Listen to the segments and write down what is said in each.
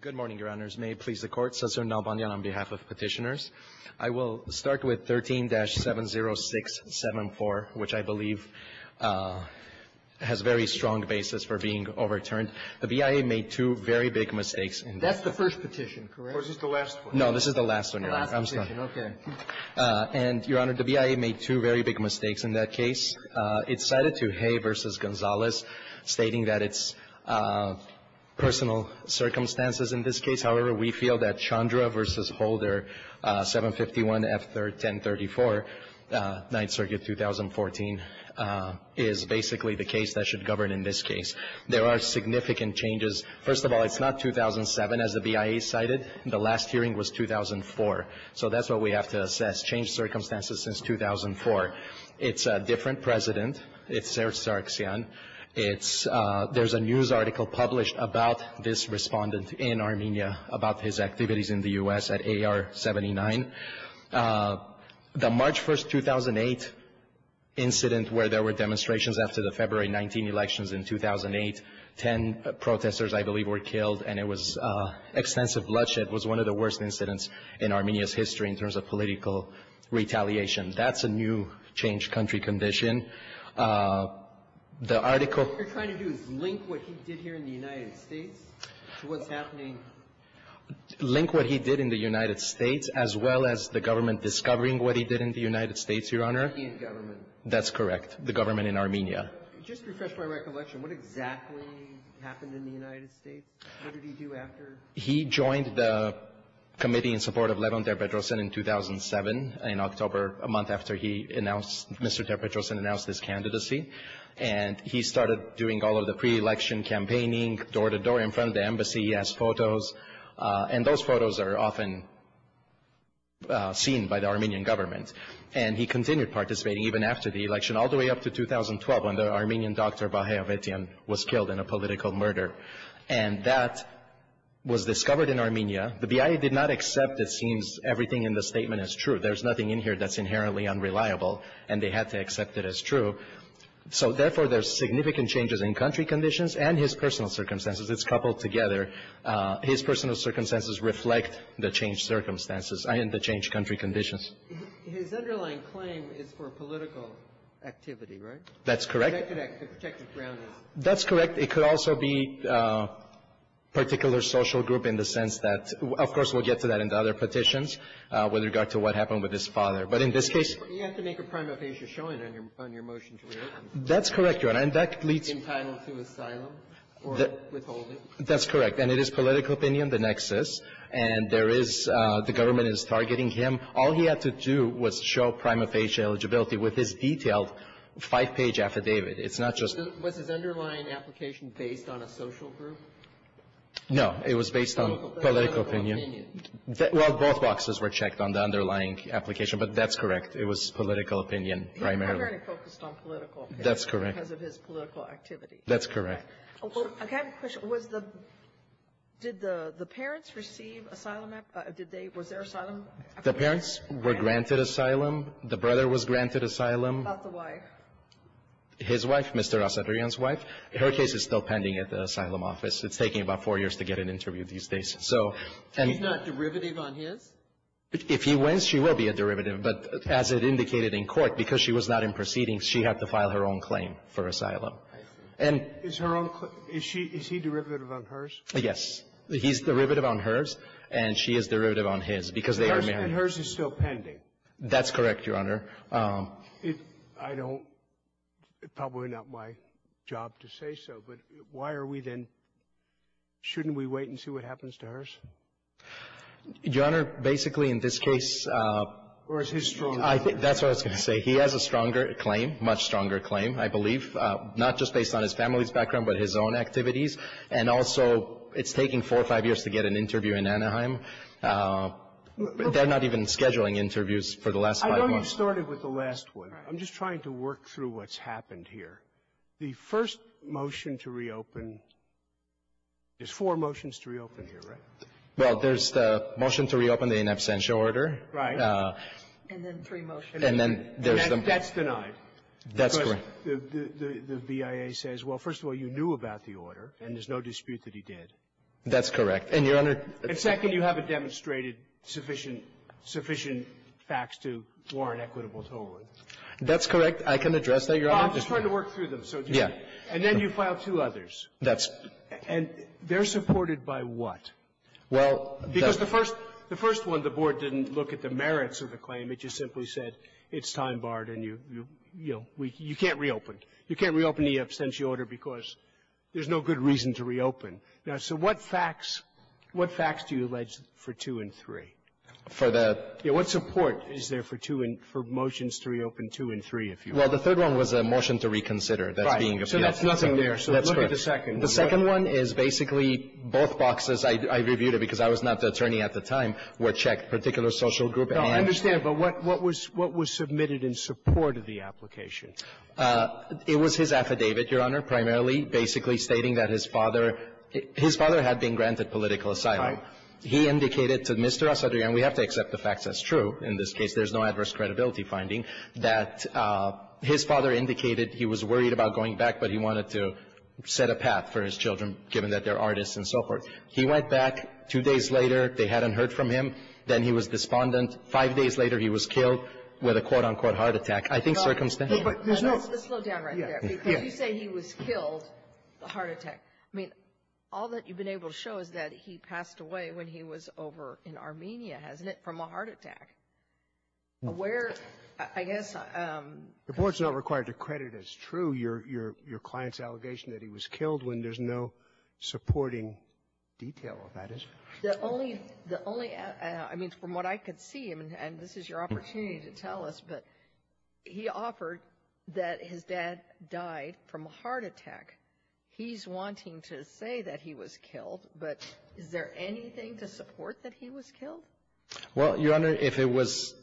Good morning, Your Honors. May it please the Court, Senator Nalbandian on behalf of Petitioners. I will start with 13-70674, which I believe has very strong basis for being overturned. The BIA made two very big mistakes in that. That's the first petition, correct? Or is this the last one? No, this is the last one, Your Honor. The last petition, okay. I'm sorry. And, Your Honor, the BIA made two very big mistakes in that case. It's cited to Hay v. Gonzalez, stating that it's personal circumstances in this case. However, we feel that Chandra v. Holder, 751-F1034, 9th Circuit, 2014, is basically the case that should govern in this case. There are significant changes. First of all, it's not 2007, as the BIA cited. The last hearing was 2004. So that's what we have to assess, changed circumstances since 2004. It's a different president. It's Serzh Sargsyan. There's a news article published about this respondent in Armenia, about his activities in the U.S. at AR-79. The March 1, 2008, incident where there were demonstrations after the February 19 elections in 2008, 10 protesters, I believe, were killed, and it was extensive bloodshed. It was one of the worst incidents in Armenia's history in terms of political retaliation. That's a new changed country condition. The article — What you're trying to do is link what he did here in the United States to what's happening — Link what he did in the United States as well as the government discovering what he did in the United States, Your Honor. The Armenian government. That's correct. The government in Armenia. Just to refresh my recollection, what exactly happened in the United States? What did he do after — He joined the committee in support of Levon Ter-Petrosyan in 2007, in October, a month after he announced — Mr. Ter-Petrosyan announced his candidacy, and he started doing all of the pre-election campaigning, door-to-door in front of the embassy, he asked photos, and those photos are often seen by the Armenian government. And he continued participating even after the election, all the way up to 2012, when the Armenian doctor, Vahey Avetian, was killed in a political murder. And that was discovered in Armenia. The BIA did not accept, it seems, everything in the statement as true. There's nothing in here that's inherently unreliable, and they had to accept it as true. So therefore, there's significant changes in country conditions and his personal circumstances. It's coupled together. His personal circumstances reflect the changed circumstances and the changed country conditions. His underlying claim is for political activity, right? That's correct. The protected ground is. That's correct. It could also be particular social group in the sense that — of course, we'll get to that in the other petitions with regard to what happened with his father. But in this case. You have to make a prima facie showing on your motion to reopen. That's correct, Your Honor. And that leads. Entitled to asylum or withholding. That's correct. And it is political opinion, the nexus. And there is — the government is targeting him. All he had to do was show prima facie eligibility with his detailed five-page affidavit. It's not just. Was his underlying application based on a social group? No. It was based on political opinion. Political opinion. Well, both boxes were checked on the underlying application, but that's correct. It was political opinion primarily. He was primarily focused on political opinion. That's correct. Because of his political activity. That's correct. I have a question. Was the — did the parents receive asylum — did they — was there asylum? The parents were granted asylum. The brother was granted asylum. What about the wife? His wife, Mr. Asadarian's wife, her case is still pending at the asylum office. It's taking about four years to get an interview these days. So — She's not derivative on his? If he wins, she will be a derivative. But as it indicated in court, because she was not in proceedings, she had to file her own claim for asylum. I see. And — Is her own — is she — is he derivative on hers? Yes. He's derivative on hers, and she is derivative on his, because they are married. And hers is still pending. That's correct, Your Honor. I don't — it's probably not my job to say so, but why are we then — shouldn't we wait and see what happens to hers? Your Honor, basically, in this case — Or is his strong? That's what I was going to say. He has a stronger claim, much stronger claim, I believe, not just based on his family's background, but his own activities. And also, it's taking four or five years to get an interview in Anaheim. They're not even scheduling interviews for the last five months. Let's start it with the last one. I'm just trying to work through what's happened here. The first motion to reopen — there's four motions to reopen here, right? Well, there's the motion to reopen the in absentia order. Right. And then three motions. And then there's the — And that's denied. That's correct. Because the BIA says, well, first of all, you knew about the order, and there's no dispute that he did. That's correct. And, Your Honor — And second, you haven't demonstrated sufficient — sufficient facts to warrant equitable tolerance. That's correct. I can address that, Your Honor. I'm just trying to work through them. So just — Yeah. And then you file two others. That's — And they're supported by what? Well, that's — Because the first — the first one, the Board didn't look at the merits of the claim. It just simply said it's time-barred and you — you can't reopen. You can't reopen the absentia order because there's no good reason to reopen. Now, so what facts — what facts do you allege for two and three? For the — Yeah. What support is there for two and — for motions to reopen two and three, if you will? Well, the third one was a motion to reconsider. That's being appealed. Right. So that's nothing there. That's correct. So look at the second. The second one is basically both boxes. I reviewed it because I was not the attorney at the time, were checked, particular social group and — No, I understand. But what was — what was submitted in support of the application? It was his affidavit, Your Honor, primarily, basically stating that his father — his father had been granted political asylum. Right. He indicated to Mr. Acedrian — we have to accept the fact that's true in this case. There's no adverse credibility finding — that his father indicated he was worried about going back, but he wanted to set a path for his children, given that they're artists and so forth. He went back. Two days later, they hadn't heard from him. Then he was despondent. Five days later, he was killed with a quote, unquote, heart attack. I think circumstances — No, but there's no — Slow down right there. Because you say he was killed, a heart attack. I mean, all that you've been able to show is that he passed away when he was over in Armenia, hasn't it, from a heart attack. Where, I guess — The Board's not required to credit as true your — your client's allegation that he was killed when there's no supporting detail of that, is there? The only — the only — I mean, from what I could see, and this is your opportunity to tell us, but he offered that his dad died from a heart attack. He's wanting to say that he was killed, but is there anything to support that he was killed? Well, Your Honor, if it was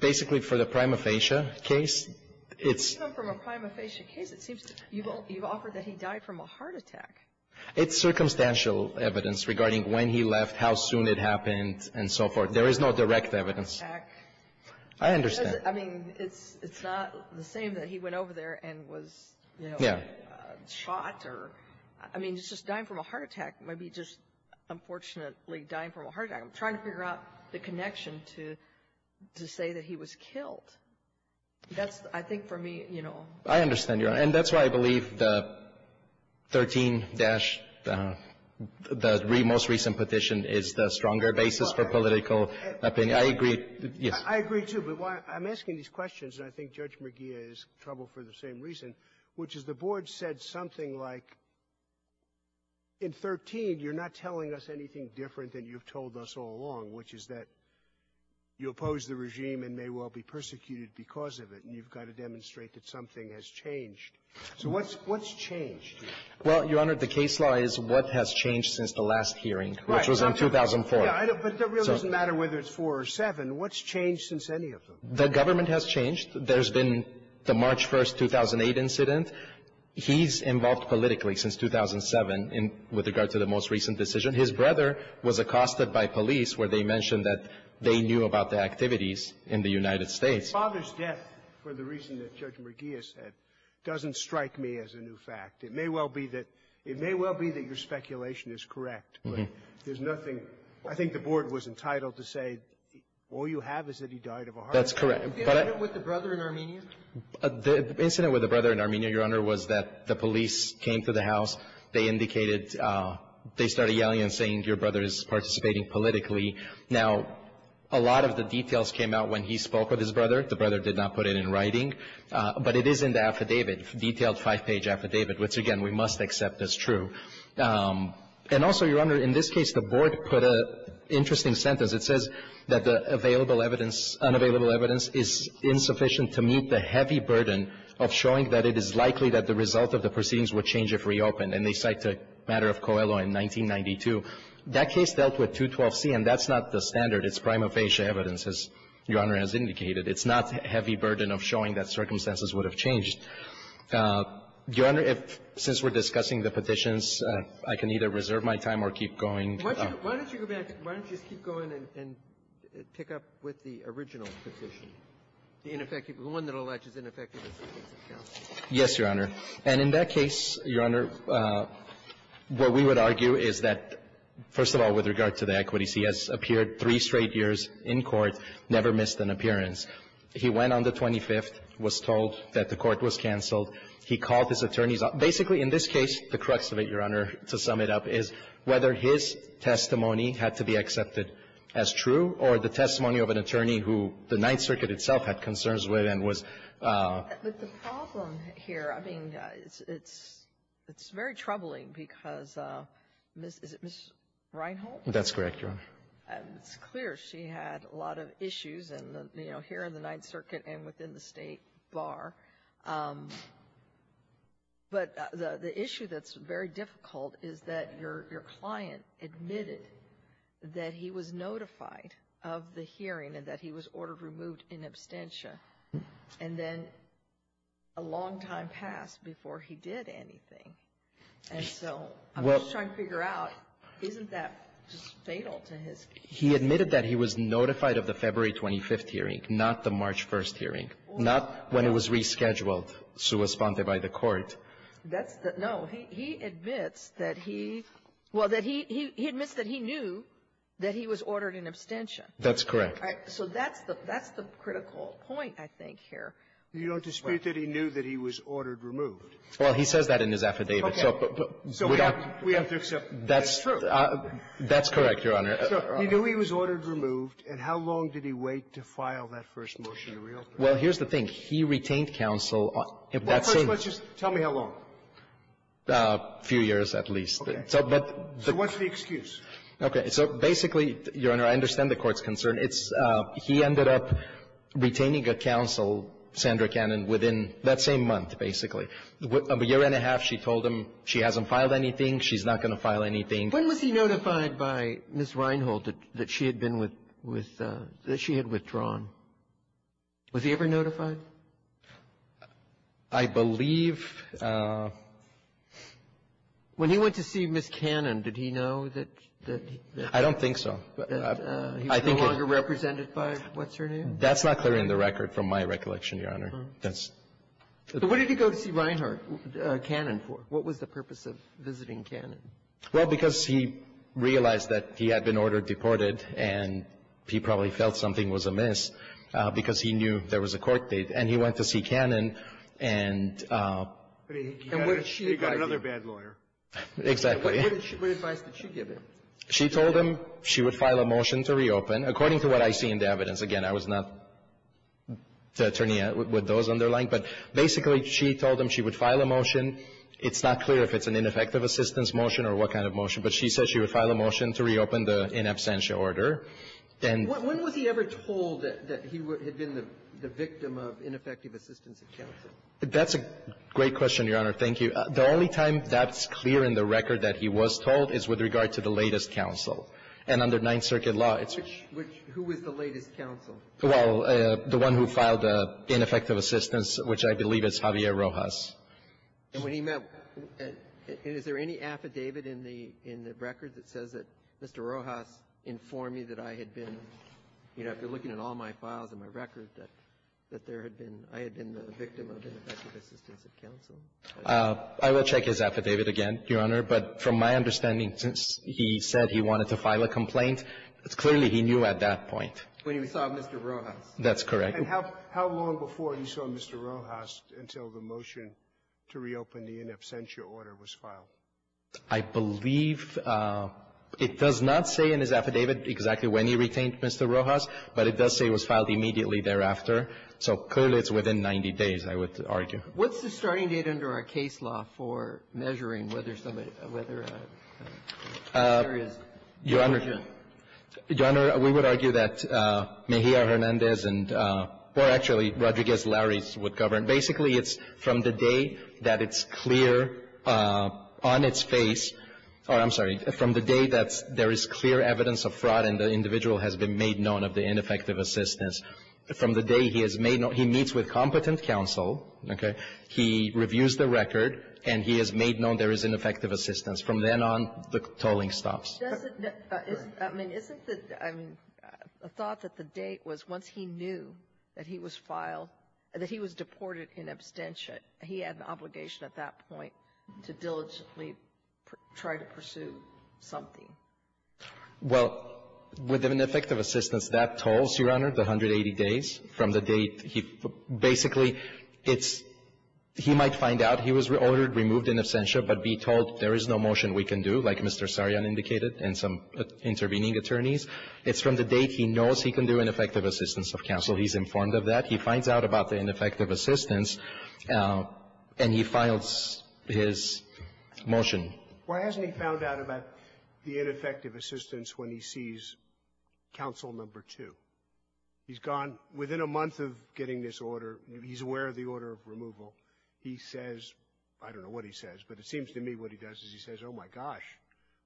basically for the prima facie case, it's — Even from a prima facie case, it seems you've offered that he died from a heart attack. It's circumstantial evidence regarding when he left, how soon it happened, and so forth. There is no direct evidence. I understand. I mean, it's — it's not the same that he went over there and was, you know, shot or — I mean, it's just dying from a heart attack. It might be just, unfortunately, dying from a heart attack. I'm trying to figure out the connection to — to say that he was killed. That's, I think, for me, you know — I understand, Your Honor. And that's why I believe the 13- — the most recent petition is the stronger basis for political opinion. I agree. Yes. I agree, too. But I'm asking these questions, and I think Judge McGeeh is troubled for the same reason, which is the Board said something like, in 13, you're not telling us anything different than you've told us all along, which is that you oppose the regime and may well be persecuted because of it, and you've got to demonstrate that something has changed. So what's — what's changed? Well, Your Honor, the case law is what has changed since the last hearing, which was in 2004. Yeah, but it really doesn't matter whether it's 4 or 7. What's changed since any of them? The government has changed. There's been the March 1, 2008 incident. He's involved politically since 2007 in — with regard to the most recent decision. His brother was accosted by police where they mentioned that they knew about the activities in the United States. Father's death, for the reason that Judge McGeeh said, doesn't strike me as a new fact. It may well be that — it may well be that your speculation is correct, but there's nothing I think the Board was entitled to say. All you have is that he died of a heart attack. That's correct. The incident with the brother in Armenia? The incident with the brother in Armenia, Your Honor, was that the police came to the house. They indicated — they started yelling and saying, your brother is participating politically. Now, a lot of the details came out when he spoke with his brother. The brother did not put it in writing, but it is in the affidavit, detailed five-page affidavit, which, again, we must accept as true. And also, Your Honor, in this case, the Board put an interesting sentence. It says that the available evidence — unavailable evidence is insufficient to meet the heavy burden of showing that it is likely that the result of the proceedings would change if reopened. And they cite the matter of Coelho in 1992. That case dealt with 212C, and that's not the standard. It's prima facie evidence, as Your Honor has indicated. It's not heavy burden of showing that circumstances would have changed. Your Honor, if — since we're discussing the petitions, I can either reserve my time or keep going. Why don't you — why don't you go back? Why don't you just keep going and pick up with the original petition, the ineffective — the one that alleges ineffective assistance of counsel? Yes, Your Honor. And in that case, Your Honor, what we would argue is that, first of all, with regard to the equities, he has appeared three straight years in court, never missed an appearance. He went on the 25th, was told that the court was canceled. He called his attorneys up. Basically, in this case, the crux of it, Your Honor, to sum it up, is whether his testimony had to be accepted as true or the testimony of an attorney who the Ninth Circuit itself had concerns with and was — But the problem here, I mean, it's — it's very troubling because Ms. — is it Ms. Reinhold? That's correct, Your Honor. It's clear she had a lot of issues in the — you know, here in the Ninth Circuit and within the State Bar. But the issue that's very difficult is that your — your client admitted that he was notified of the hearing and that he was ordered removed in absentia. And then a long time passed before he did anything. And so I'm just trying to figure out, isn't that just fatal to his — He admitted that he was notified of the February 25th hearing, not the March 1st hearing, not when it was rescheduled, sua sponte, by the court. That's the — no. He admits that he — well, that he — he admits that he knew that he was ordered in absentia. That's correct. So that's the — that's the critical point, I think, here. You don't dispute that he knew that he was ordered removed. Well, he says that in his affidavit. So we don't — So we have to accept that it's true. That's correct, Your Honor. So he knew he was ordered removed, and how long did he wait to file that first motion to reopen? Well, here's the thing. He retained counsel if that's in — Well, first, let's just — tell me how long. A few years, at least. Okay. So what's the excuse? Okay. So basically, Your Honor, I understand the Court's concern. It's — he ended up retaining a counsel, Sandra Cannon, within that same month, basically. A year and a half, she told him she hasn't filed anything, she's not going to file anything. When was he notified by Ms. Reinhold that she had been with — that she had withdrawn? Was he ever notified? I believe — When he went to see Ms. Cannon, did he know that — I don't think so. That he was no longer represented by — what's her name? That's not clear in the record, from my recollection, Your Honor. That's — So what did he go to see Reinhardt, Cannon, for? What was the purpose of visiting Cannon? Well, because he realized that he had been ordered deported, and he probably felt something was amiss, because he knew there was a court date. And he went to see Cannon, and — But he got another bad lawyer. Exactly. What advice did she give him? She told him she would file a motion to reopen. According to what I see in the evidence, again, I was not the attorney with those She told him she would file a motion. It's not clear if it's an ineffective assistance motion or what kind of motion, but she said she would file a motion to reopen the in absentia order. When was he ever told that he had been the victim of ineffective assistance in counsel? That's a great question, Your Honor. Thank you. The only time that's clear in the record that he was told is with regard to the latest counsel. And under Ninth Circuit law, it's — Which — who was the latest counsel? Well, the one who filed the ineffective assistance, which I believe is Javier Rojas. And when he met — is there any affidavit in the — in the record that says that Mr. Rojas informed me that I had been — you know, if you're looking at all my files in my record, that there had been — I had been the victim of ineffective assistance in counsel? I will check his affidavit again, Your Honor. But from my understanding, since he said he wanted to file a complaint, clearly he knew at that point. When he saw Mr. Rojas. That's correct. And how long before he saw Mr. Rojas until the motion to reopen the in absentia order was filed? I believe it does not say in his affidavit exactly when he retained Mr. Rojas, but it does say it was filed immediately thereafter. So clearly it's within 90 days, I would argue. What's the starting date under our case law for measuring whether somebody — whether there is — Your Honor, Your Honor, we would argue that Mejia-Hernandez and — or actually, Rodriguez-Larry would govern. Basically, it's from the day that it's clear on its face — or, I'm sorry, from the day that there is clear evidence of fraud and the individual has been made known of the ineffective assistance, from the day he has made — he meets with competent counsel, okay, he reviews the record, and he has made known there is ineffective assistance. From then on, the tolling stops. Doesn't — I mean, isn't the — I mean, the thought that the date was once he knew that he was filed — that he was deported in absentia, he had an obligation at that point to diligently try to pursue something. Well, with ineffective assistance, that tolls, Your Honor, the 180 days from the date he — basically, it's — he might find out he was ordered, removed in absentia, but be told there is no motion we can do, like Mr. Sarian indicated and some intervening attorneys. It's from the date he knows he can do ineffective assistance of counsel. He's informed of that. He finds out about the ineffective assistance, and he files his motion. Why hasn't he found out about the ineffective assistance when he sees counsel number two? He's gone — within a month of getting this order, he's aware of the order of removal. He says — I don't know what he says, but it seems to me what he does is he says, oh, my gosh,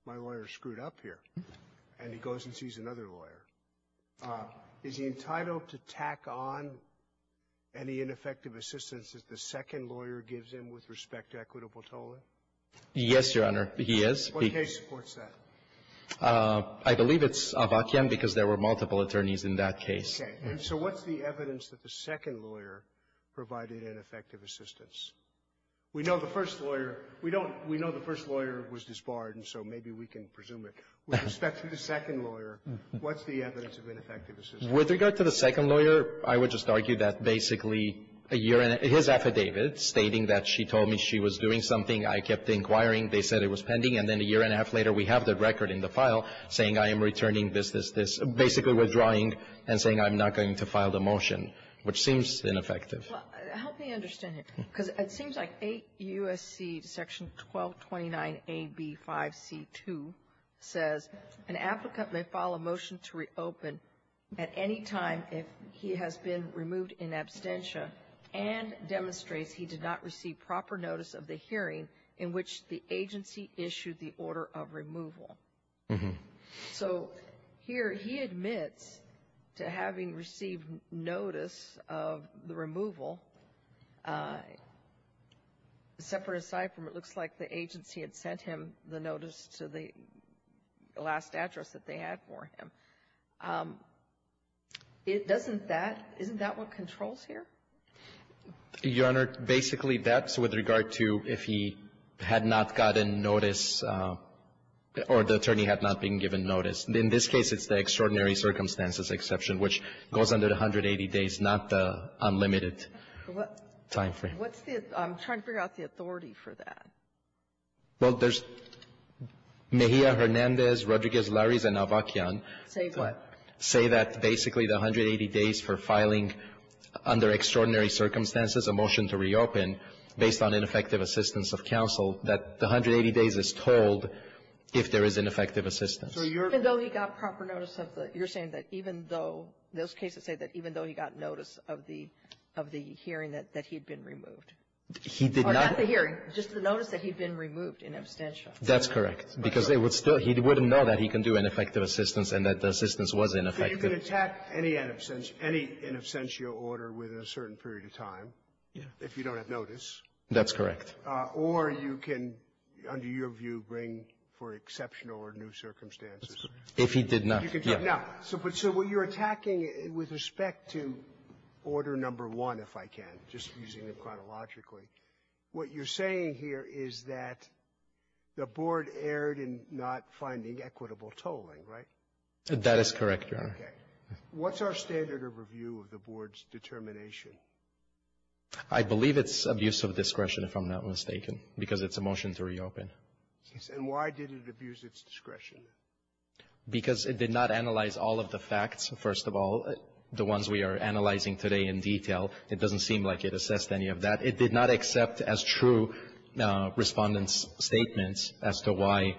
my lawyer is screwed up here. And he goes and sees another lawyer. Is he entitled to tack on any ineffective assistance that the second lawyer gives him with respect to equitable tolling? Yes, Your Honor, he is. What case supports that? I believe it's Avakian because there were multiple attorneys in that case. Okay. And so what's the evidence that the second lawyer provided ineffective assistance? We know the first lawyer — we don't — we know the first lawyer was disbarred, and so maybe we can presume it. With respect to the second lawyer, what's the evidence of ineffective assistance? With regard to the second lawyer, I would just argue that basically a year — his affidavit stating that she told me she was doing something, I kept inquiring, they said it was pending, and then a year and a half later, we have the record in the file saying I am returning this, this, this, basically withdrawing and saying I'm not going to file the motion, which seems ineffective. Well, help me understand it, because it seems like 8 U.S.C. section 1229AB5C2 says an applicant may file a motion to reopen at any time if he has been removed in absentia and demonstrates he did not receive proper notice of the hearing in which the agency issued the order of removal. So here he admits to having received notice of the removal, separate aside from it looks like the agency had sent him the notice to the last address that they had for him. Doesn't that — isn't that what controls here? Your Honor, basically, that's with regard to if he had not gotten notice or the attorney had not been given notice. In this case, it's the extraordinary circumstances exception, which goes under the 180 days, not the unlimited timeframe. What's the — I'm trying to figure out the authority for that. Well, there's Mejia, Hernandez, Rodriguez, Laris, and Avakian. Say what? Say that basically the 180 days for filing under extraordinary circumstances a motion to reopen based on ineffective assistance of counsel, that the 180 days is told if there is ineffective assistance. So you're — Even though he got proper notice of the — you're saying that even though — those cases say that even though he got notice of the — of the hearing, that he had been removed. He did not — Or not the hearing, just the notice that he had been removed in absentia. That's correct. Because they would still — he wouldn't know that he can do ineffective assistance and that the assistance was ineffective. So you can attack any in absentia order within a certain period of time if you don't have notice. That's correct. Or you can, under your view, bring for exceptional or new circumstances. If he did not. If he did not. So what you're attacking with respect to Order No. 1, if I can, just using it chronologically, what you're saying here is that the Board erred in not finding equitable tolling, right? That is correct, Your Honor. Okay. What's our standard of review of the Board's determination? I believe it's abuse of discretion, if I'm not mistaken, because it's a motion to reopen. And why did it abuse its discretion? Because it did not analyze all of the facts, first of all. The ones we are analyzing today in detail, it doesn't seem like it assessed any of that. It did not accept as true Respondent's statements as to why.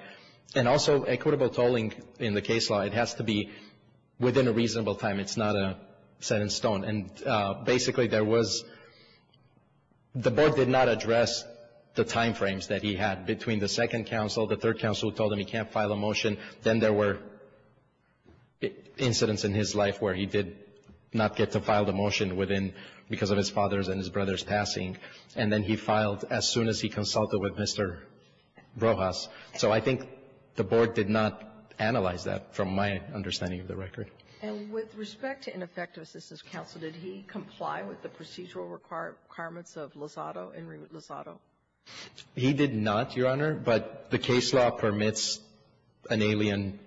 And also equitable tolling in the case law, it has to be within a reasonable time. It's not a set in stone. And basically, there was the Board did not address the time frames that he had between the second counsel, the third counsel who told him he can't file a motion. Then there were incidents in his life where he did not get to file the motion within a reasonable time frame because of his father's and his brother's passing. And then he filed as soon as he consulted with Mr. Rojas. So I think the Board did not analyze that from my understanding of the record. And with respect to ineffective assistance counsel, did he comply with the procedural requirements of Lozado, Henry Lozado? He did not, Your Honor, but the case law permits an alien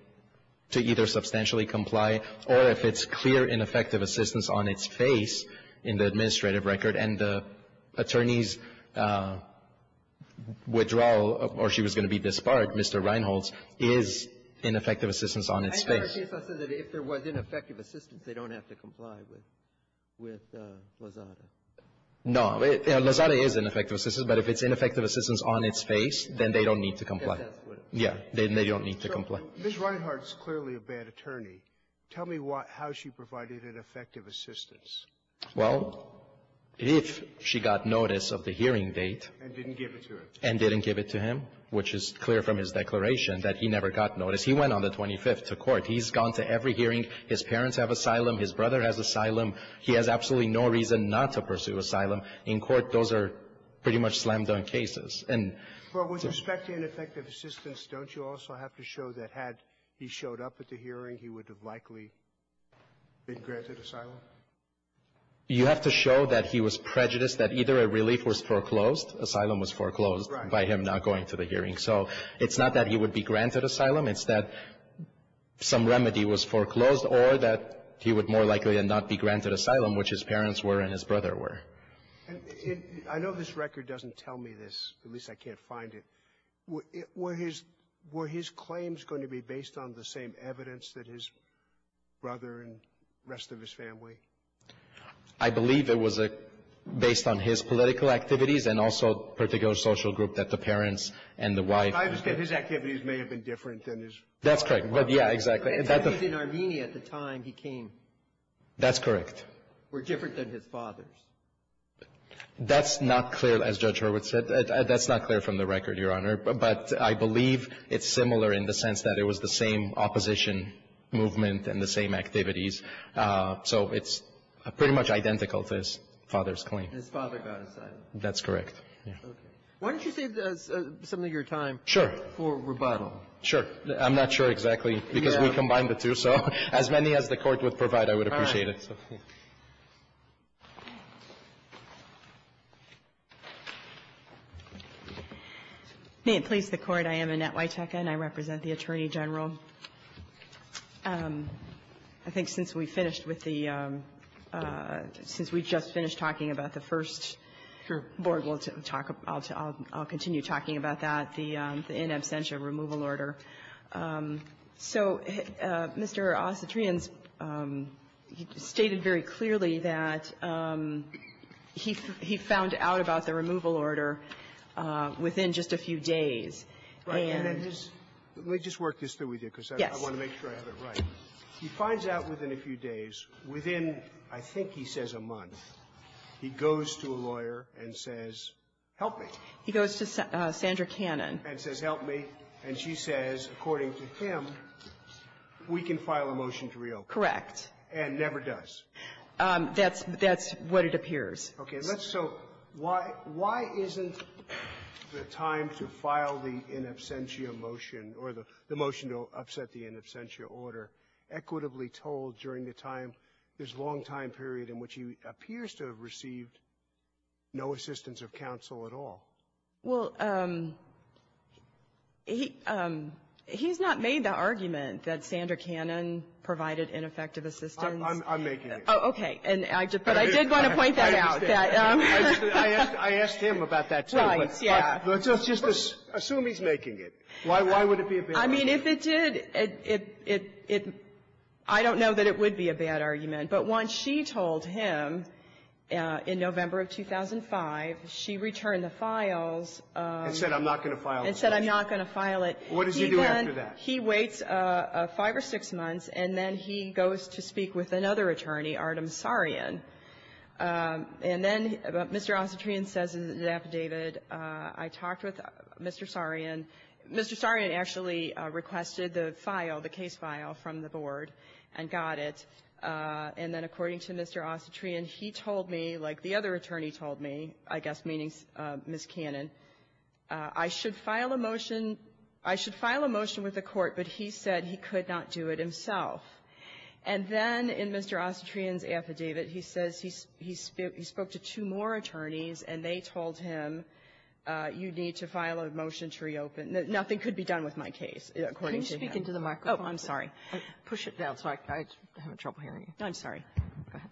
to either substantially comply or if it's clear ineffective assistance on its face in the administrative record and the attorney's withdrawal or she was going to be disbarred, Mr. Reinholz, is ineffective assistance on its face. If there was ineffective assistance, they don't have to comply with Lozado? No. Lozado is ineffective assistance, but if it's ineffective assistance on its face, then they don't need to comply. Yes. They don't need to comply. Ms. Reinhart is clearly a bad attorney. Tell me how she provided ineffective assistance. Well, if she got notice of the hearing date. And didn't give it to him. And didn't give it to him, which is clear from his declaration that he never got notice. He went on the 25th to court. He's gone to every hearing. His parents have asylum. His brother has asylum. He has absolutely no reason not to pursue asylum. In court, those are pretty much slam-dunk cases. Well, with respect to ineffective assistance, don't you also have to show that had he showed up at the hearing, he would have likely been granted asylum? You have to show that he was prejudiced, that either a relief was foreclosed asylum was foreclosed by him not going to the hearing. So it's not that he would be granted asylum. It's that some remedy was foreclosed or that he would more likely than not be granted asylum, which his parents were and his brother were. I know this record doesn't tell me this. At least I can't find it. Were his claims going to be based on the same evidence that his brother and rest of his family? I believe it was based on his political activities and also a particular social group that the parents and the wife. I understand his activities may have been different than his father's. That's correct. Yeah, exactly. In Armenia at the time he came. That's correct. Were different than his father's. That's not clear, as Judge Hurwitz said. That's not clear from the record, Your Honor. But I believe it's similar in the sense that it was the same opposition movement and the same activities. So it's pretty much identical to his father's claim. His father got asylum. That's correct. Okay. Why don't you save some of your time. Sure. For rebuttal. Sure. I'm not sure exactly because we combined the two. So as many as the Court would provide, I would appreciate it. Yes, of course. May it please the Court. I am Annette Witeka, and I represent the Attorney General. I think since we finished with the — since we just finished talking about the first — Sure. — board, we'll talk about — I'll continue talking about that, the in absentia removal order. So Mr. Ossetrian's — he stated very clearly that he found out about the removal order within just a few days. Right. And his — let me just work this through with you because I want to make sure I have it right. He finds out within a few days. Within, I think he says a month, he goes to a lawyer and says, help me. He goes to Sandra Cannon. And says, help me. And she says, according to him, we can file a motion to reopen. Correct. And never does. That's — that's what it appears. Okay. So why — why isn't the time to file the in absentia motion or the motion to upset the in absentia order equitably told during the time, this long time period in which he appears to have received no assistance of counsel at all? Well, he — he's not made the argument that Sandra Cannon provided ineffective assistance. I'm making it. Oh, okay. But I did want to point that out. I understand. I asked him about that, too. Right, yeah. Let's just assume he's making it. Why would it be a bad argument? I mean, if it did, it — I don't know that it would be a bad argument. But once she told him, in November of 2005, she returned the files. And said, I'm not going to file the file. And said, I'm not going to file it. What does he do after that? He then — he waits five or six months, and then he goes to speak with another attorney, Artem Sarian. And then Mr. Ossetrian says in his affidavit, I talked with Mr. Sarian. Mr. Sarian actually requested the file, the case file from the board and got it. And then according to Mr. Ossetrian, he told me, like the other attorney told me, I guess meaning Ms. Cannon, I should file a motion — I should file a motion with the court, but he said he could not do it himself. And then in Mr. Ossetrian's affidavit, he says he spoke to two more attorneys, and they told him, you need to file a motion to reopen. Nothing could be done with my case, according to him. So let me get back into the microphone. I'm sorry. Push it down so I don't have trouble hearing you. No, I'm sorry.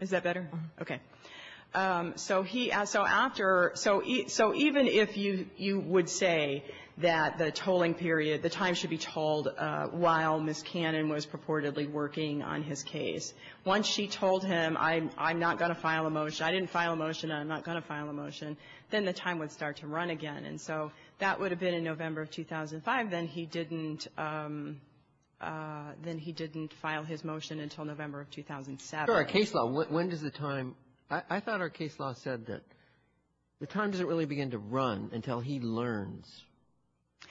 Is that better? Okay. So he — so after — so he — so even if you — you would say that the tolling period, the time should be told while Ms. Cannon was purportedly working on his case, once she told him, I'm not going to file a motion, I didn't file a motion, I'm not going to file a motion, then the time would start to run again. And so that would have been in November of 2005. Then he didn't — then he didn't file his motion until November of 2007. So our case law, when does the time — I thought our case law said that the time doesn't really begin to run until he learns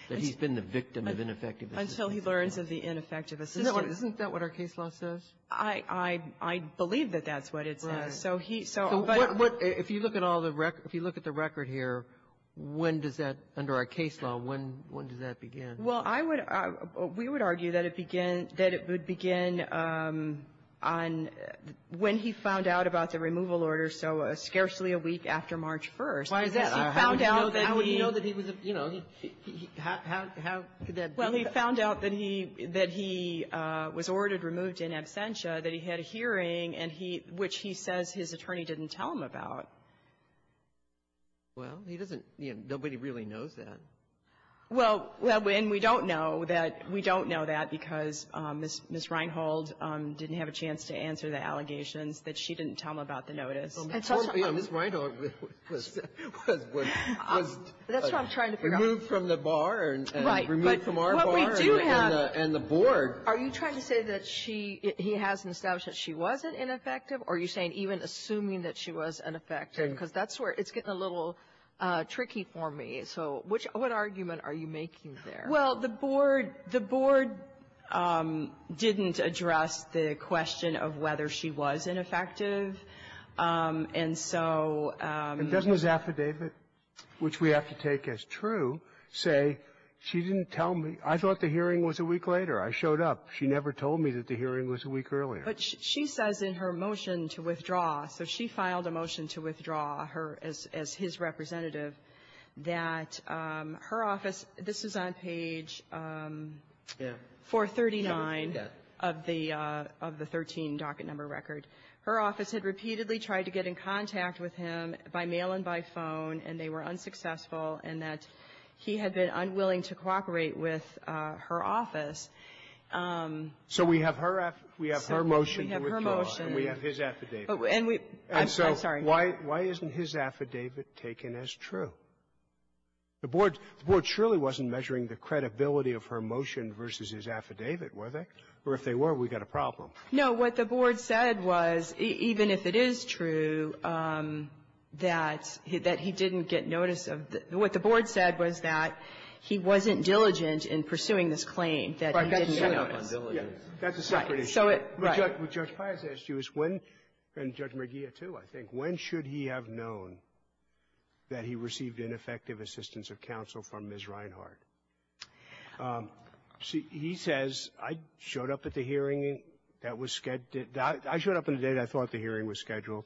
that he's been the victim of ineffective assistance. Until he learns of the ineffective assistance. Isn't that what our case law says? I believe that that's what it says. Right. So he — so — But if you look at all the — if you look at the record here, when does that — under our case law, when does that begin? Well, I would — we would argue that it begin — that it would begin on — when he found out about the removal order, so scarcely a week after March 1st. Why is that? Because he found out that he — How would he know that he was — you know, how could that be? Well, he found out that he — that he was ordered removed in absentia, that he had a hearing, and he — which he says his attorney didn't tell him about. Well, he doesn't — you know, nobody really knows that. Well — well, and we don't know that — we don't know that because Ms. Reinhold didn't have a chance to answer the allegations that she didn't tell him about the notice. And so — Ms. Reinhold was — was — was — That's what I'm trying to figure out. Removed from the bar and — Right. But what we do have — And removed from our bar and the board. Are you trying to say that she — he hasn't established that she wasn't ineffective, or are you saying even assuming that she was ineffective? Because that's where — it's getting a little tricky for me. So which — what argument are you making there? Well, the board — the board didn't address the question of whether she was ineffective. And so — And doesn't his affidavit, which we have to take as true, say she didn't tell me — I thought the hearing was a week later. I showed up. She never told me that the hearing was a week earlier. But she says in her motion to withdraw, so she filed a motion to withdraw her as — as his representative, that her office — this is on page 439 of the — of the 13 docket number record. Her office had repeatedly tried to get in contact with him by mail and by phone, and they were unsuccessful, and that he had been unwilling to cooperate with her office. So we have her — we have her motion to withdraw. We have her motion. And we have his affidavit. And we — I'm sorry. And so why — why isn't his affidavit taken as true? The board — the board surely wasn't measuring the credibility of her motion versus his affidavit, were they? Or if they were, we've got a problem. No. What the board said was, even if it is true that he — that he didn't get notice of the — what the board said was that he wasn't diligent in pursuing this claim, that he didn't get notice. That's a separate issue. Right. So it — right. What Judge Pius asked you is when — and Judge McGeer, too, I think — when should he have known that he received ineffective assistance of counsel from Ms. Reinhart? He says, I showed up at the hearing that was — I showed up on the day that I thought the hearing was scheduled,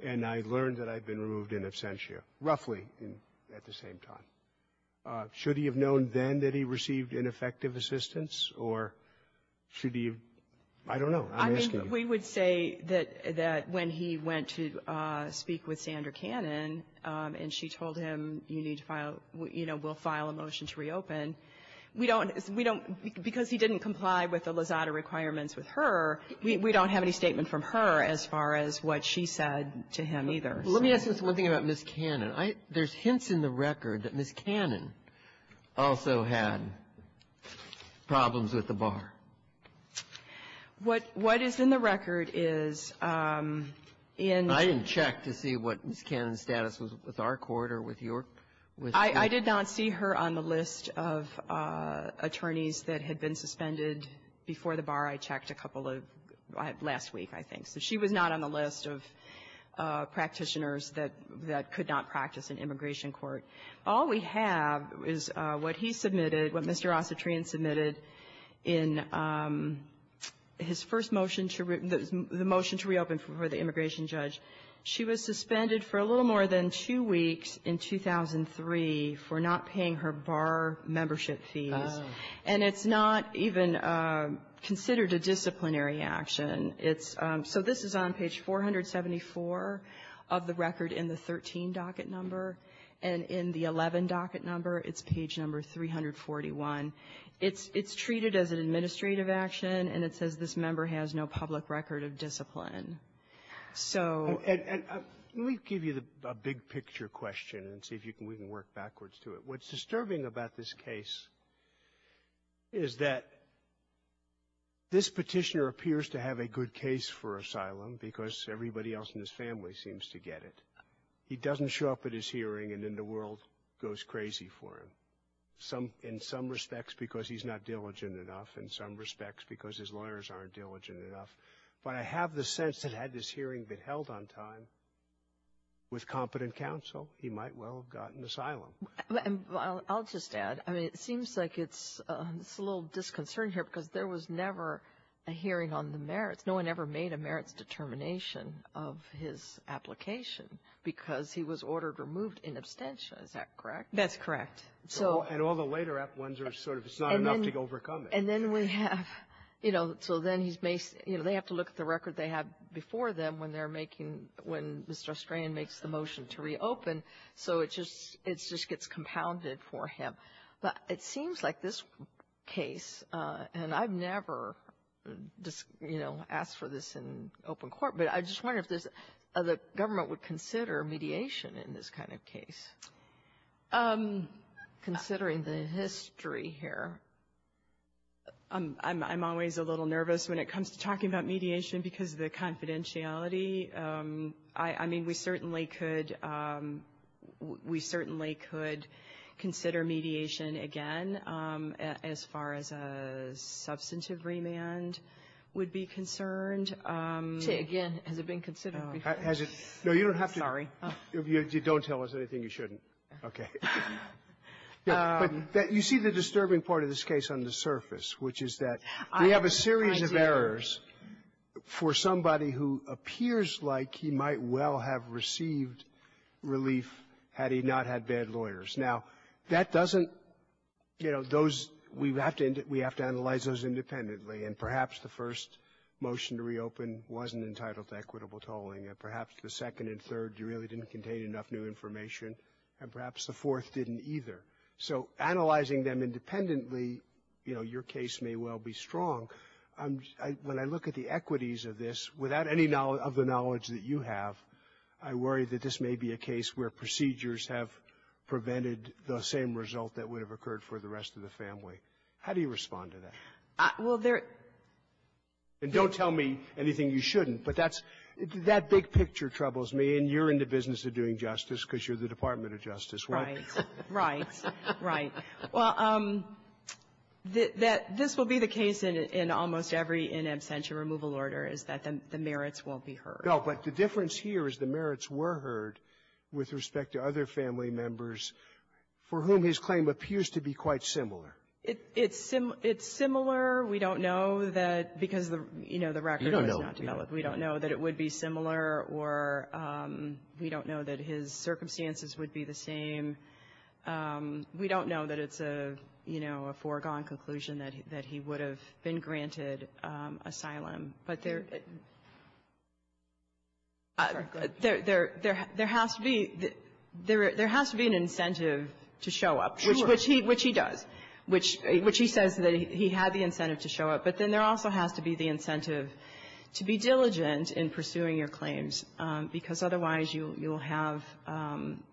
and I learned that I'd been removed in absentia, roughly at the same time. Should he have known then that he received ineffective assistance, or should he have — I don't know. I'm asking you. I think we would say that when he went to speak with Sandra Cannon, and she told him, you need to file — you know, we'll file a motion to reopen, we don't — we don't — because he didn't comply with the Lozada requirements with her, we don't have any statement from her as far as what she said to him, either. Let me ask just one thing about Ms. Cannon. I — there's hints in the record that Ms. Cannon also had problems with the bar. What — what is in the record is in — I — I did not see her on the list of attorneys that had been suspended before the bar. I checked a couple of — last week, I think. So she was not on the list of practitioners that — that could not practice in immigration court. All we have is what he submitted, what Mr. Ossetrian submitted in his first motion to — the motion to reopen for the immigration judge. She was suspended for a little more than two weeks in 2003 for not paying her bar membership fees. Oh. And it's not even considered a disciplinary action. It's — so this is on page 474 of the record in the 13 docket number. And in the 11 docket number, it's page number 341. It's — it's treated as an administrative action, and it says this member has no public record of discipline. So — And — and let me give you the — a big-picture question and see if you can — we can work backwards to it. What's disturbing about this case is that this petitioner appears to have a good case for asylum because everybody else in his family seems to get it. He doesn't show up at his hearing, and then the world goes crazy for him, some — in some respects because he's not diligent enough, in some respects because his lawyers aren't diligent enough. But I have the sense that had this hearing been held on time with competent counsel, he might well have gotten asylum. Well, I'll just add, I mean, it seems like it's — it's a little disconcerting here because there was never a hearing on the merits. No one ever made a merits determination of his application because he was ordered removed in absentia. Is that correct? That's correct. So — And all the later ones are sort of it's not enough to overcome it. And then we have — you know, so then he's — you know, they have to look at the record they have before them when they're making — when Mr. Strand makes the motion to reopen, so it just — it just gets compounded for him. But it seems like this case, and I've never, you know, asked for this in open court, but I just wonder if the government would consider mediation in this kind of case. Considering the history here, I'm always a little nervous when it comes to talking about mediation because of the confidentiality. I mean, we certainly could — we certainly could consider mediation again as far as a substantive remand would be concerned. Say again. Has it been considered before? Has it? No, you don't have to. Sorry. If you don't tell us anything, you shouldn't. Okay. But you see the disturbing part of this case on the surface, which is that we have a series of errors for somebody who appears like he might well have received relief had he not had bad lawyers. Now, that doesn't — you know, those — we have to — we have to analyze those independently. And perhaps the first motion to reopen wasn't entitled to equitable tolling. And perhaps the second and third really didn't contain enough new information, and perhaps the fourth didn't either. So analyzing them independently, you know, your case may well be strong. When I look at the equities of this, without any of the knowledge that you have, I worry that this may be a case where procedures have prevented the same result that would have occurred for the rest of the family. How do you respond to that? Well, there — And don't tell me anything you shouldn't, but that's — that big picture troubles me, and you're in the business of doing justice because you're the Department of Justice, right? Right. Right. Well, this will be the case in almost every in absentia removal order, is that the merits won't be heard. No, but the difference here is the merits were heard with respect to other family members for whom his claim appears to be quite similar. It's similar. We don't know that because, you know, the record is not developed. We don't know. We don't know that it would be similar, or we don't know that his circumstances would be the same. We don't know that it's a, you know, a foregone conclusion that he would have been granted asylum. But there — Sorry, go ahead. There has to be — there has to be an incentive to show up. Sure. Which he — which he does, which he says that he had the incentive to show up. But then there also has to be the incentive to be diligent in pursuing your claims, because otherwise you'll have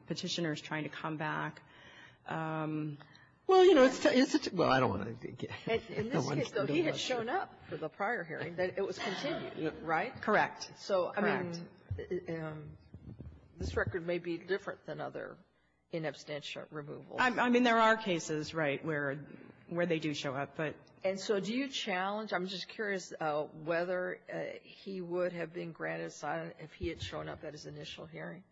Petitioners trying to come back. Well, you know, it's such a — well, I don't want to — In this case, though, he had shown up for the prior hearing. It was continued, right? Correct. Correct. So, I mean, this record may be different than other in absentia removals. I mean, there are cases, right, where they do show up, but — And so do you challenge — I'm just curious whether he would have been granted asylum if he had shown up at his initial hearing?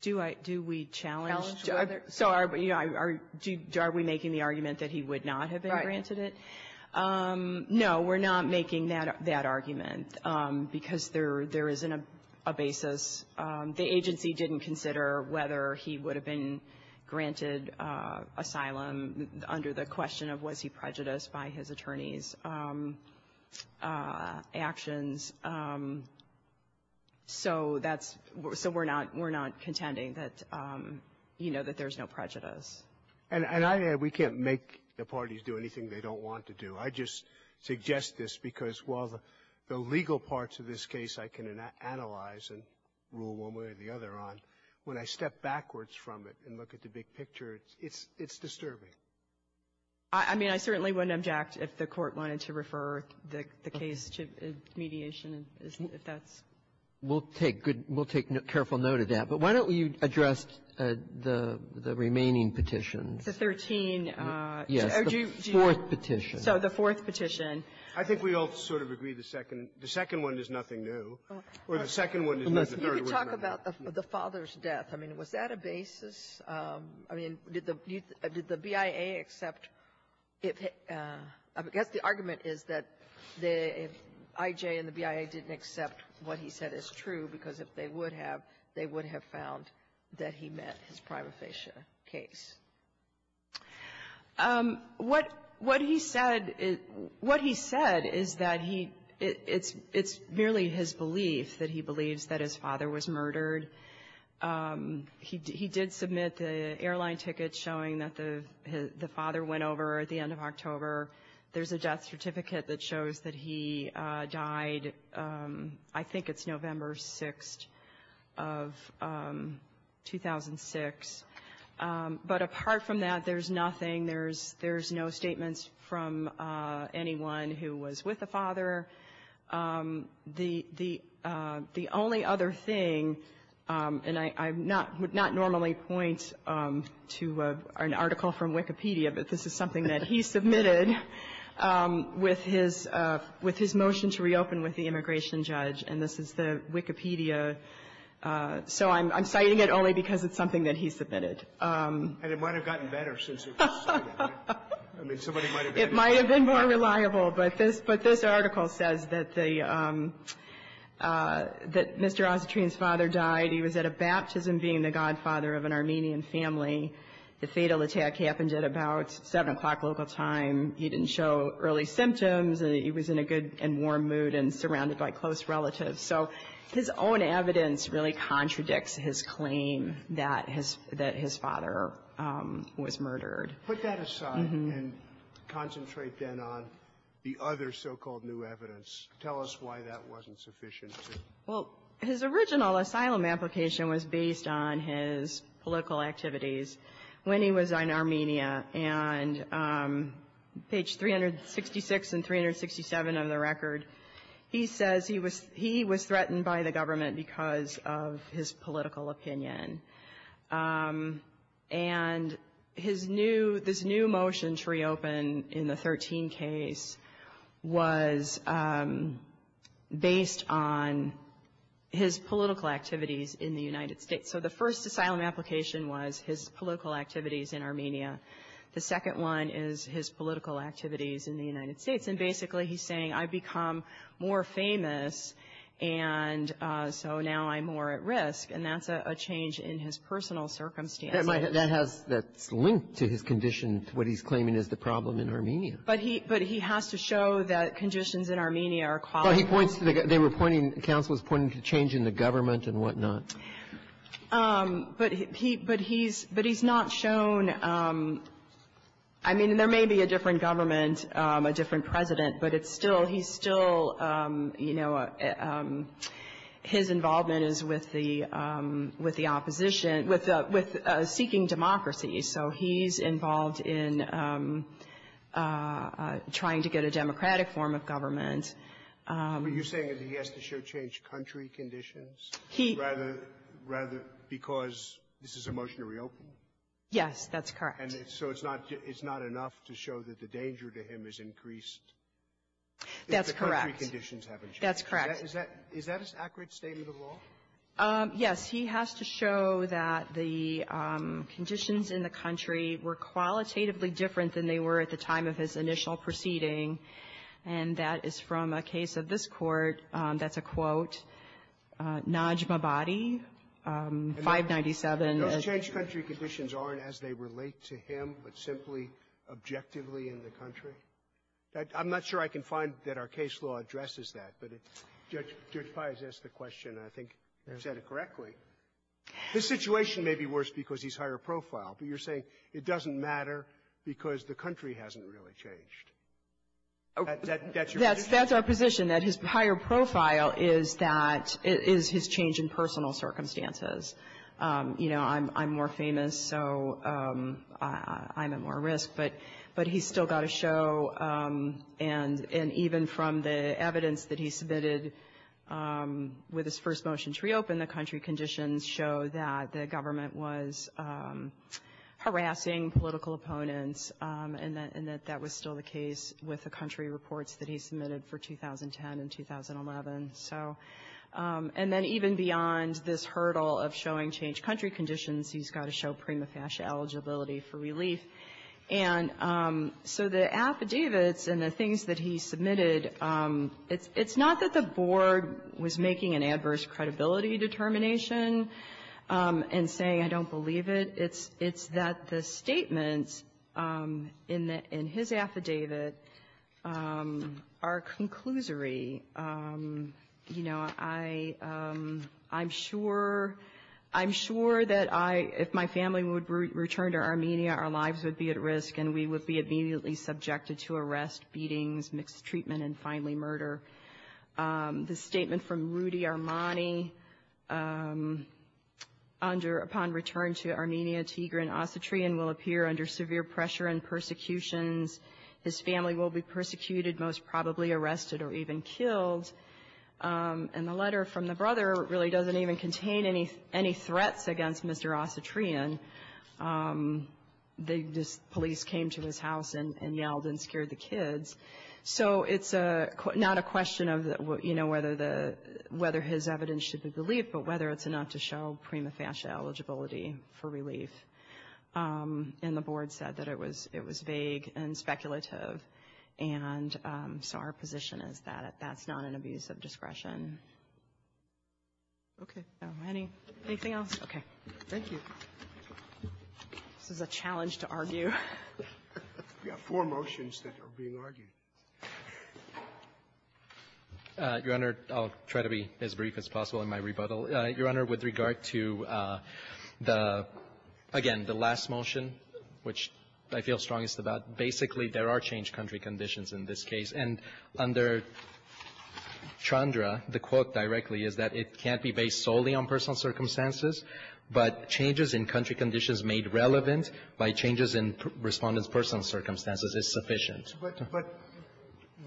Do I — do we challenge — Challenge whether — So are we — are we making the argument that he would not have been granted it? Right. No, we're not making that argument, because there isn't a basis. The agency didn't consider whether he would have been granted asylum under the question of was he prejudiced by his attorney's actions. So that's — so we're not — we're not contending that, you know, that there's no prejudice. And I — we can't make the parties do anything they don't want to do. I just suggest this because while the legal parts of this case I can analyze and rule one way or the other on, when I step backwards from it and look at the big picture, it's disturbing. I mean, I certainly wouldn't object if the Court wanted to refer the case to mediation if that's — We'll take good — we'll take careful note of that. But why don't we address the remaining petitions? The 13 — Yes. The fourth petition. So the fourth petition. I think we all sort of agree the second — the second one is nothing new, or the second one is nothing new. The third one is nothing new. You could talk about the father's death. I mean, was that a basis? I mean, did the BIA accept if — I guess the argument is that if I.J. and the BIA didn't accept what he said is true, because if they would have, they would have found that he met his prima facie case. What he said — what he said is that he — it's merely his belief that he believes that his father was murdered. He did submit the airline ticket showing that the father went over at the end of October. There's a death certificate that shows that he died, I think it's November 6th of 2006. But apart from that, there's nothing. There's no statements from anyone who was with the father. The only other thing, and I would not normally point to an article from Wikipedia, but this is something that he submitted with his motion to reopen with the immigration judge, and this is the Wikipedia. So I'm citing it only because it's something that he submitted. And it might have gotten better since it was submitted, right? I mean, somebody might have been — It might have been more reliable, but this article says that the — that Mr. Ossetrian's father died. He was at a baptism being the godfather of an Armenian family. The fatal attack happened at about 7 o'clock local time. He didn't show early symptoms. He was in a good and warm mood and surrounded by close relatives. So his own evidence really contradicts his claim that his father was murdered. Put that aside and concentrate then on the other so-called new evidence. Tell us why that wasn't sufficient. Well, his original asylum application was based on his political activities when he was in Armenia. And page 366 and 367 of the record, he says he was threatened by the government because of his political opinion. And his new — this new motion to reopen in the 13 case was based on his political activities in the United States. So the first asylum application was his political activities in Armenia. The second one is his political activities in the United States. And basically he's saying, I've become more famous, and so now I'm more at risk. And that's a change in his personal circumstances. That has — that's linked to his condition, to what he's claiming is the problem in Armenia. But he — but he has to show that conditions in Armenia are — Well, he points to the — they were pointing — counsel was pointing to change in the government and whatnot. But he — but he's — but he's not shown — I mean, there may be a different government, a different president, but it's still — he's still, you know, his involvement is with the — with the opposition, with seeking democracy. So he's involved in trying to get a democratic form of government. But you're saying that he has to show changed country conditions? He — Rather — rather because this is a motion to reopen? Yes. That's correct. And so it's not — it's not enough to show that the danger to him has increased? That's correct. If the country conditions haven't changed. That's correct. Is that — is that an accurate statement of law? Yes. He has to show that the conditions in the country were qualitatively different than they were at the time of his initial proceeding. And that is from a case of this Court. That's a, quote, Najmabadi, 597. Those changed country conditions aren't as they relate to him, but simply objectively in the country? I'm not sure I can find that our case law addresses that. But Judge Pais asked the question. I think you said it correctly. This situation may be worse because he's higher profile, but you're saying it doesn't matter because the country hasn't really changed. That's your position? That's our position, that his higher profile is that — is his change in personal circumstances. You know, I'm more famous, so I'm at more risk. But he's still got to show — and even from the evidence that he submitted with his first motion to reopen the country conditions show that the government was harassing political opponents, and that was still the case with the country reports that he submitted for 2010 and 2011. So — and then even beyond this hurdle of showing changed country conditions, he's got to show prima facie eligibility for relief. And so the affidavits and the things that he submitted, it's not that the Board was making an adverse credibility determination and saying, I don't believe it. It's that the statements in his affidavit are conclusory. You know, I'm sure — I'm sure that I — if my family would return to Armenia, our lives would be at risk, and we would be immediately subjected to arrest, beatings, mixed treatment, and finally murder. The statement from Rudy Armani, under — upon return to Armenia, Tigran Ossetrian will appear under severe pressure and persecutions. His family will be persecuted, most probably arrested or even killed. And the letter from the brother really doesn't even contain any — any threats against Mr. Ossetrian. The police came to his house and yelled and scared the kids. So it's not a question of, you know, whether the — whether his evidence should be believed, but whether it's enough to show prima facie eligibility for relief. And the Board said that it was — it was vague and speculative. And so our position is that that's not an abuse of discretion. Okay. Anything else? Okay. Thank you. This is a challenge to argue. We have four motions that are being argued. Your Honor, I'll try to be as brief as possible in my rebuttal. Your Honor, with regard to the — again, the last motion, which I feel strongest about, basically there are changed country conditions in this case. And under Chandra, the quote directly is that it can't be based solely on personal circumstances, but changes in country conditions made relevant by changes in Respondent's personal circumstances is sufficient. But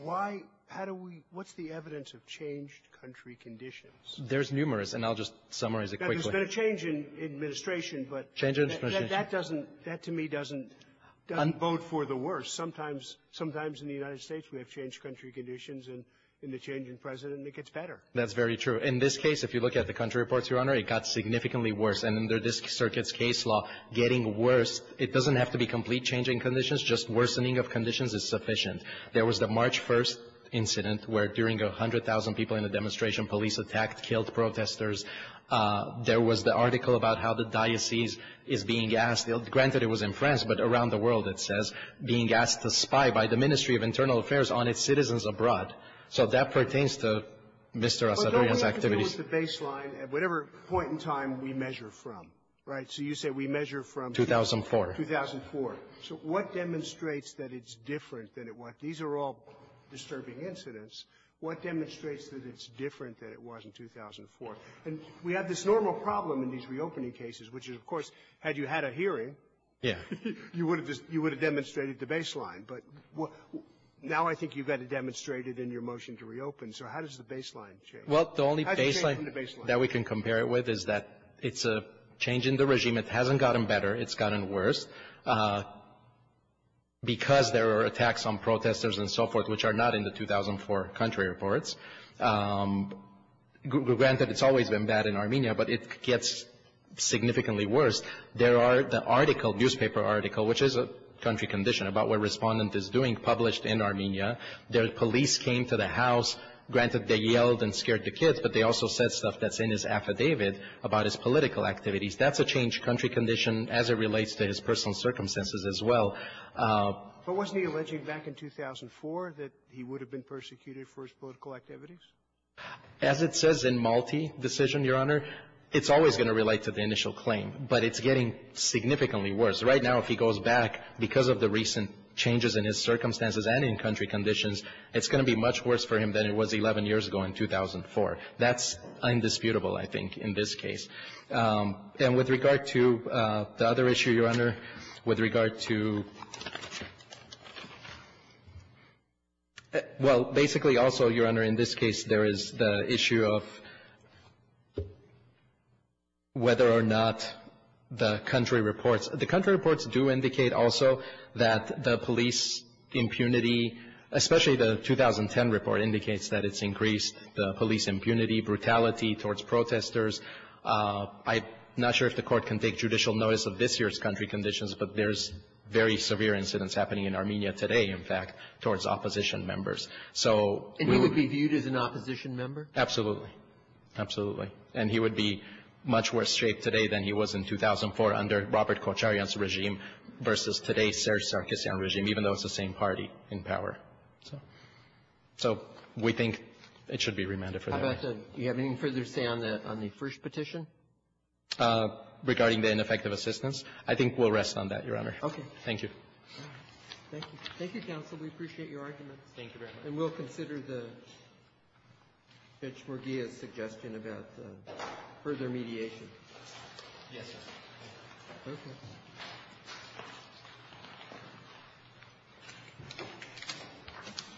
why — how do we — what's the evidence of changed country conditions? There's numerous, and I'll just summarize it quickly. Now, there's been a change in administration, but — Change in administration. That doesn't — that, to me, doesn't vote for the worst. Sometimes — sometimes in the United States, we have changed country conditions, and in the change in President, it gets better. That's very true. In this case, if you look at the country reports, Your Honor, it got significantly worse. And under this circuit's case law, getting worse, it doesn't have to be complete change in conditions. Just worsening of conditions is sufficient. There was the March 1st incident where, during 100,000 people in the demonstration, police attacked, killed protesters. There was the article about how the diocese is being asked — granted, it was in France, but around the world, it says, being asked to spy by the Ministry of Internal Affairs on its citizens abroad. So that pertains to Mr. Asadorian's activities. But don't we have to deal with the baseline at whatever point in time we measure from, right? So you say we measure from — 2004. 2004. So what demonstrates that it's different than it was? These are all disturbing incidents. What demonstrates that it's different than it was in 2004? And we have this normal problem in these reopening cases, which is, of course, had you had a hearing, you would have just — you would have demonstrated the baseline. But now I think you've got it demonstrated in your motion to reopen, so how does the baseline change? How does it change from the baseline? Well, the only baseline that we can compare it with is that it's a change in the regime. It hasn't gotten better. It's gotten worse. Because there are attacks on protesters and so forth, which are not in the 2004 country reports. Granted, it's always been bad in Armenia, but it gets significantly worse. There are the article, newspaper article, which is a country condition about what Respondent is doing, published in Armenia. The police came to the house. Granted, they yelled and scared the kids, but they also said stuff that's in his affidavit about his political activities. That's a changed country condition as it relates to his personal circumstances as well. But wasn't he alleging back in 2004 that he would have been persecuted for his political activities? As it says in Malti decision, Your Honor, it's always going to relate to the initial claim, but it's getting significantly worse. Right now, if he goes back, because of the recent changes in his circumstances and in country conditions, it's going to be much worse for him than it was 11 years ago in 2004. That's indisputable, I think, in this case. And with regard to the other issue, Your Honor, with regard to — well, basically, also, Your Honor, in this case, there is the issue of whether or not the country reports. The country reports do indicate also that the police impunity, especially the 2010 report, indicates that it's increased the police impunity, brutality towards protesters. I'm not sure if the Court can take judicial notice of this year's country conditions, but there's very severe incidents happening in Armenia today, in fact, towards opposition members. So — And he would be viewed as an opposition member? Absolutely. Absolutely. And he would be much worse shaped today than he was in 2004 under Robert Kocharyan's regime versus today's Serzh Sargsyan regime, even though it's the same party in power. So we think it should be remanded for that. How about the — do you have any further say on that, on the first petition? Regarding the ineffective assistance, I think we'll rest on that, Your Honor. Okay. Thank you. Thank you. Thank you, counsel. We appreciate your arguments. Thank you very much. And we'll consider the — Fitch-Morgia's suggestion about the further mediation. Yes, sir. Thank you.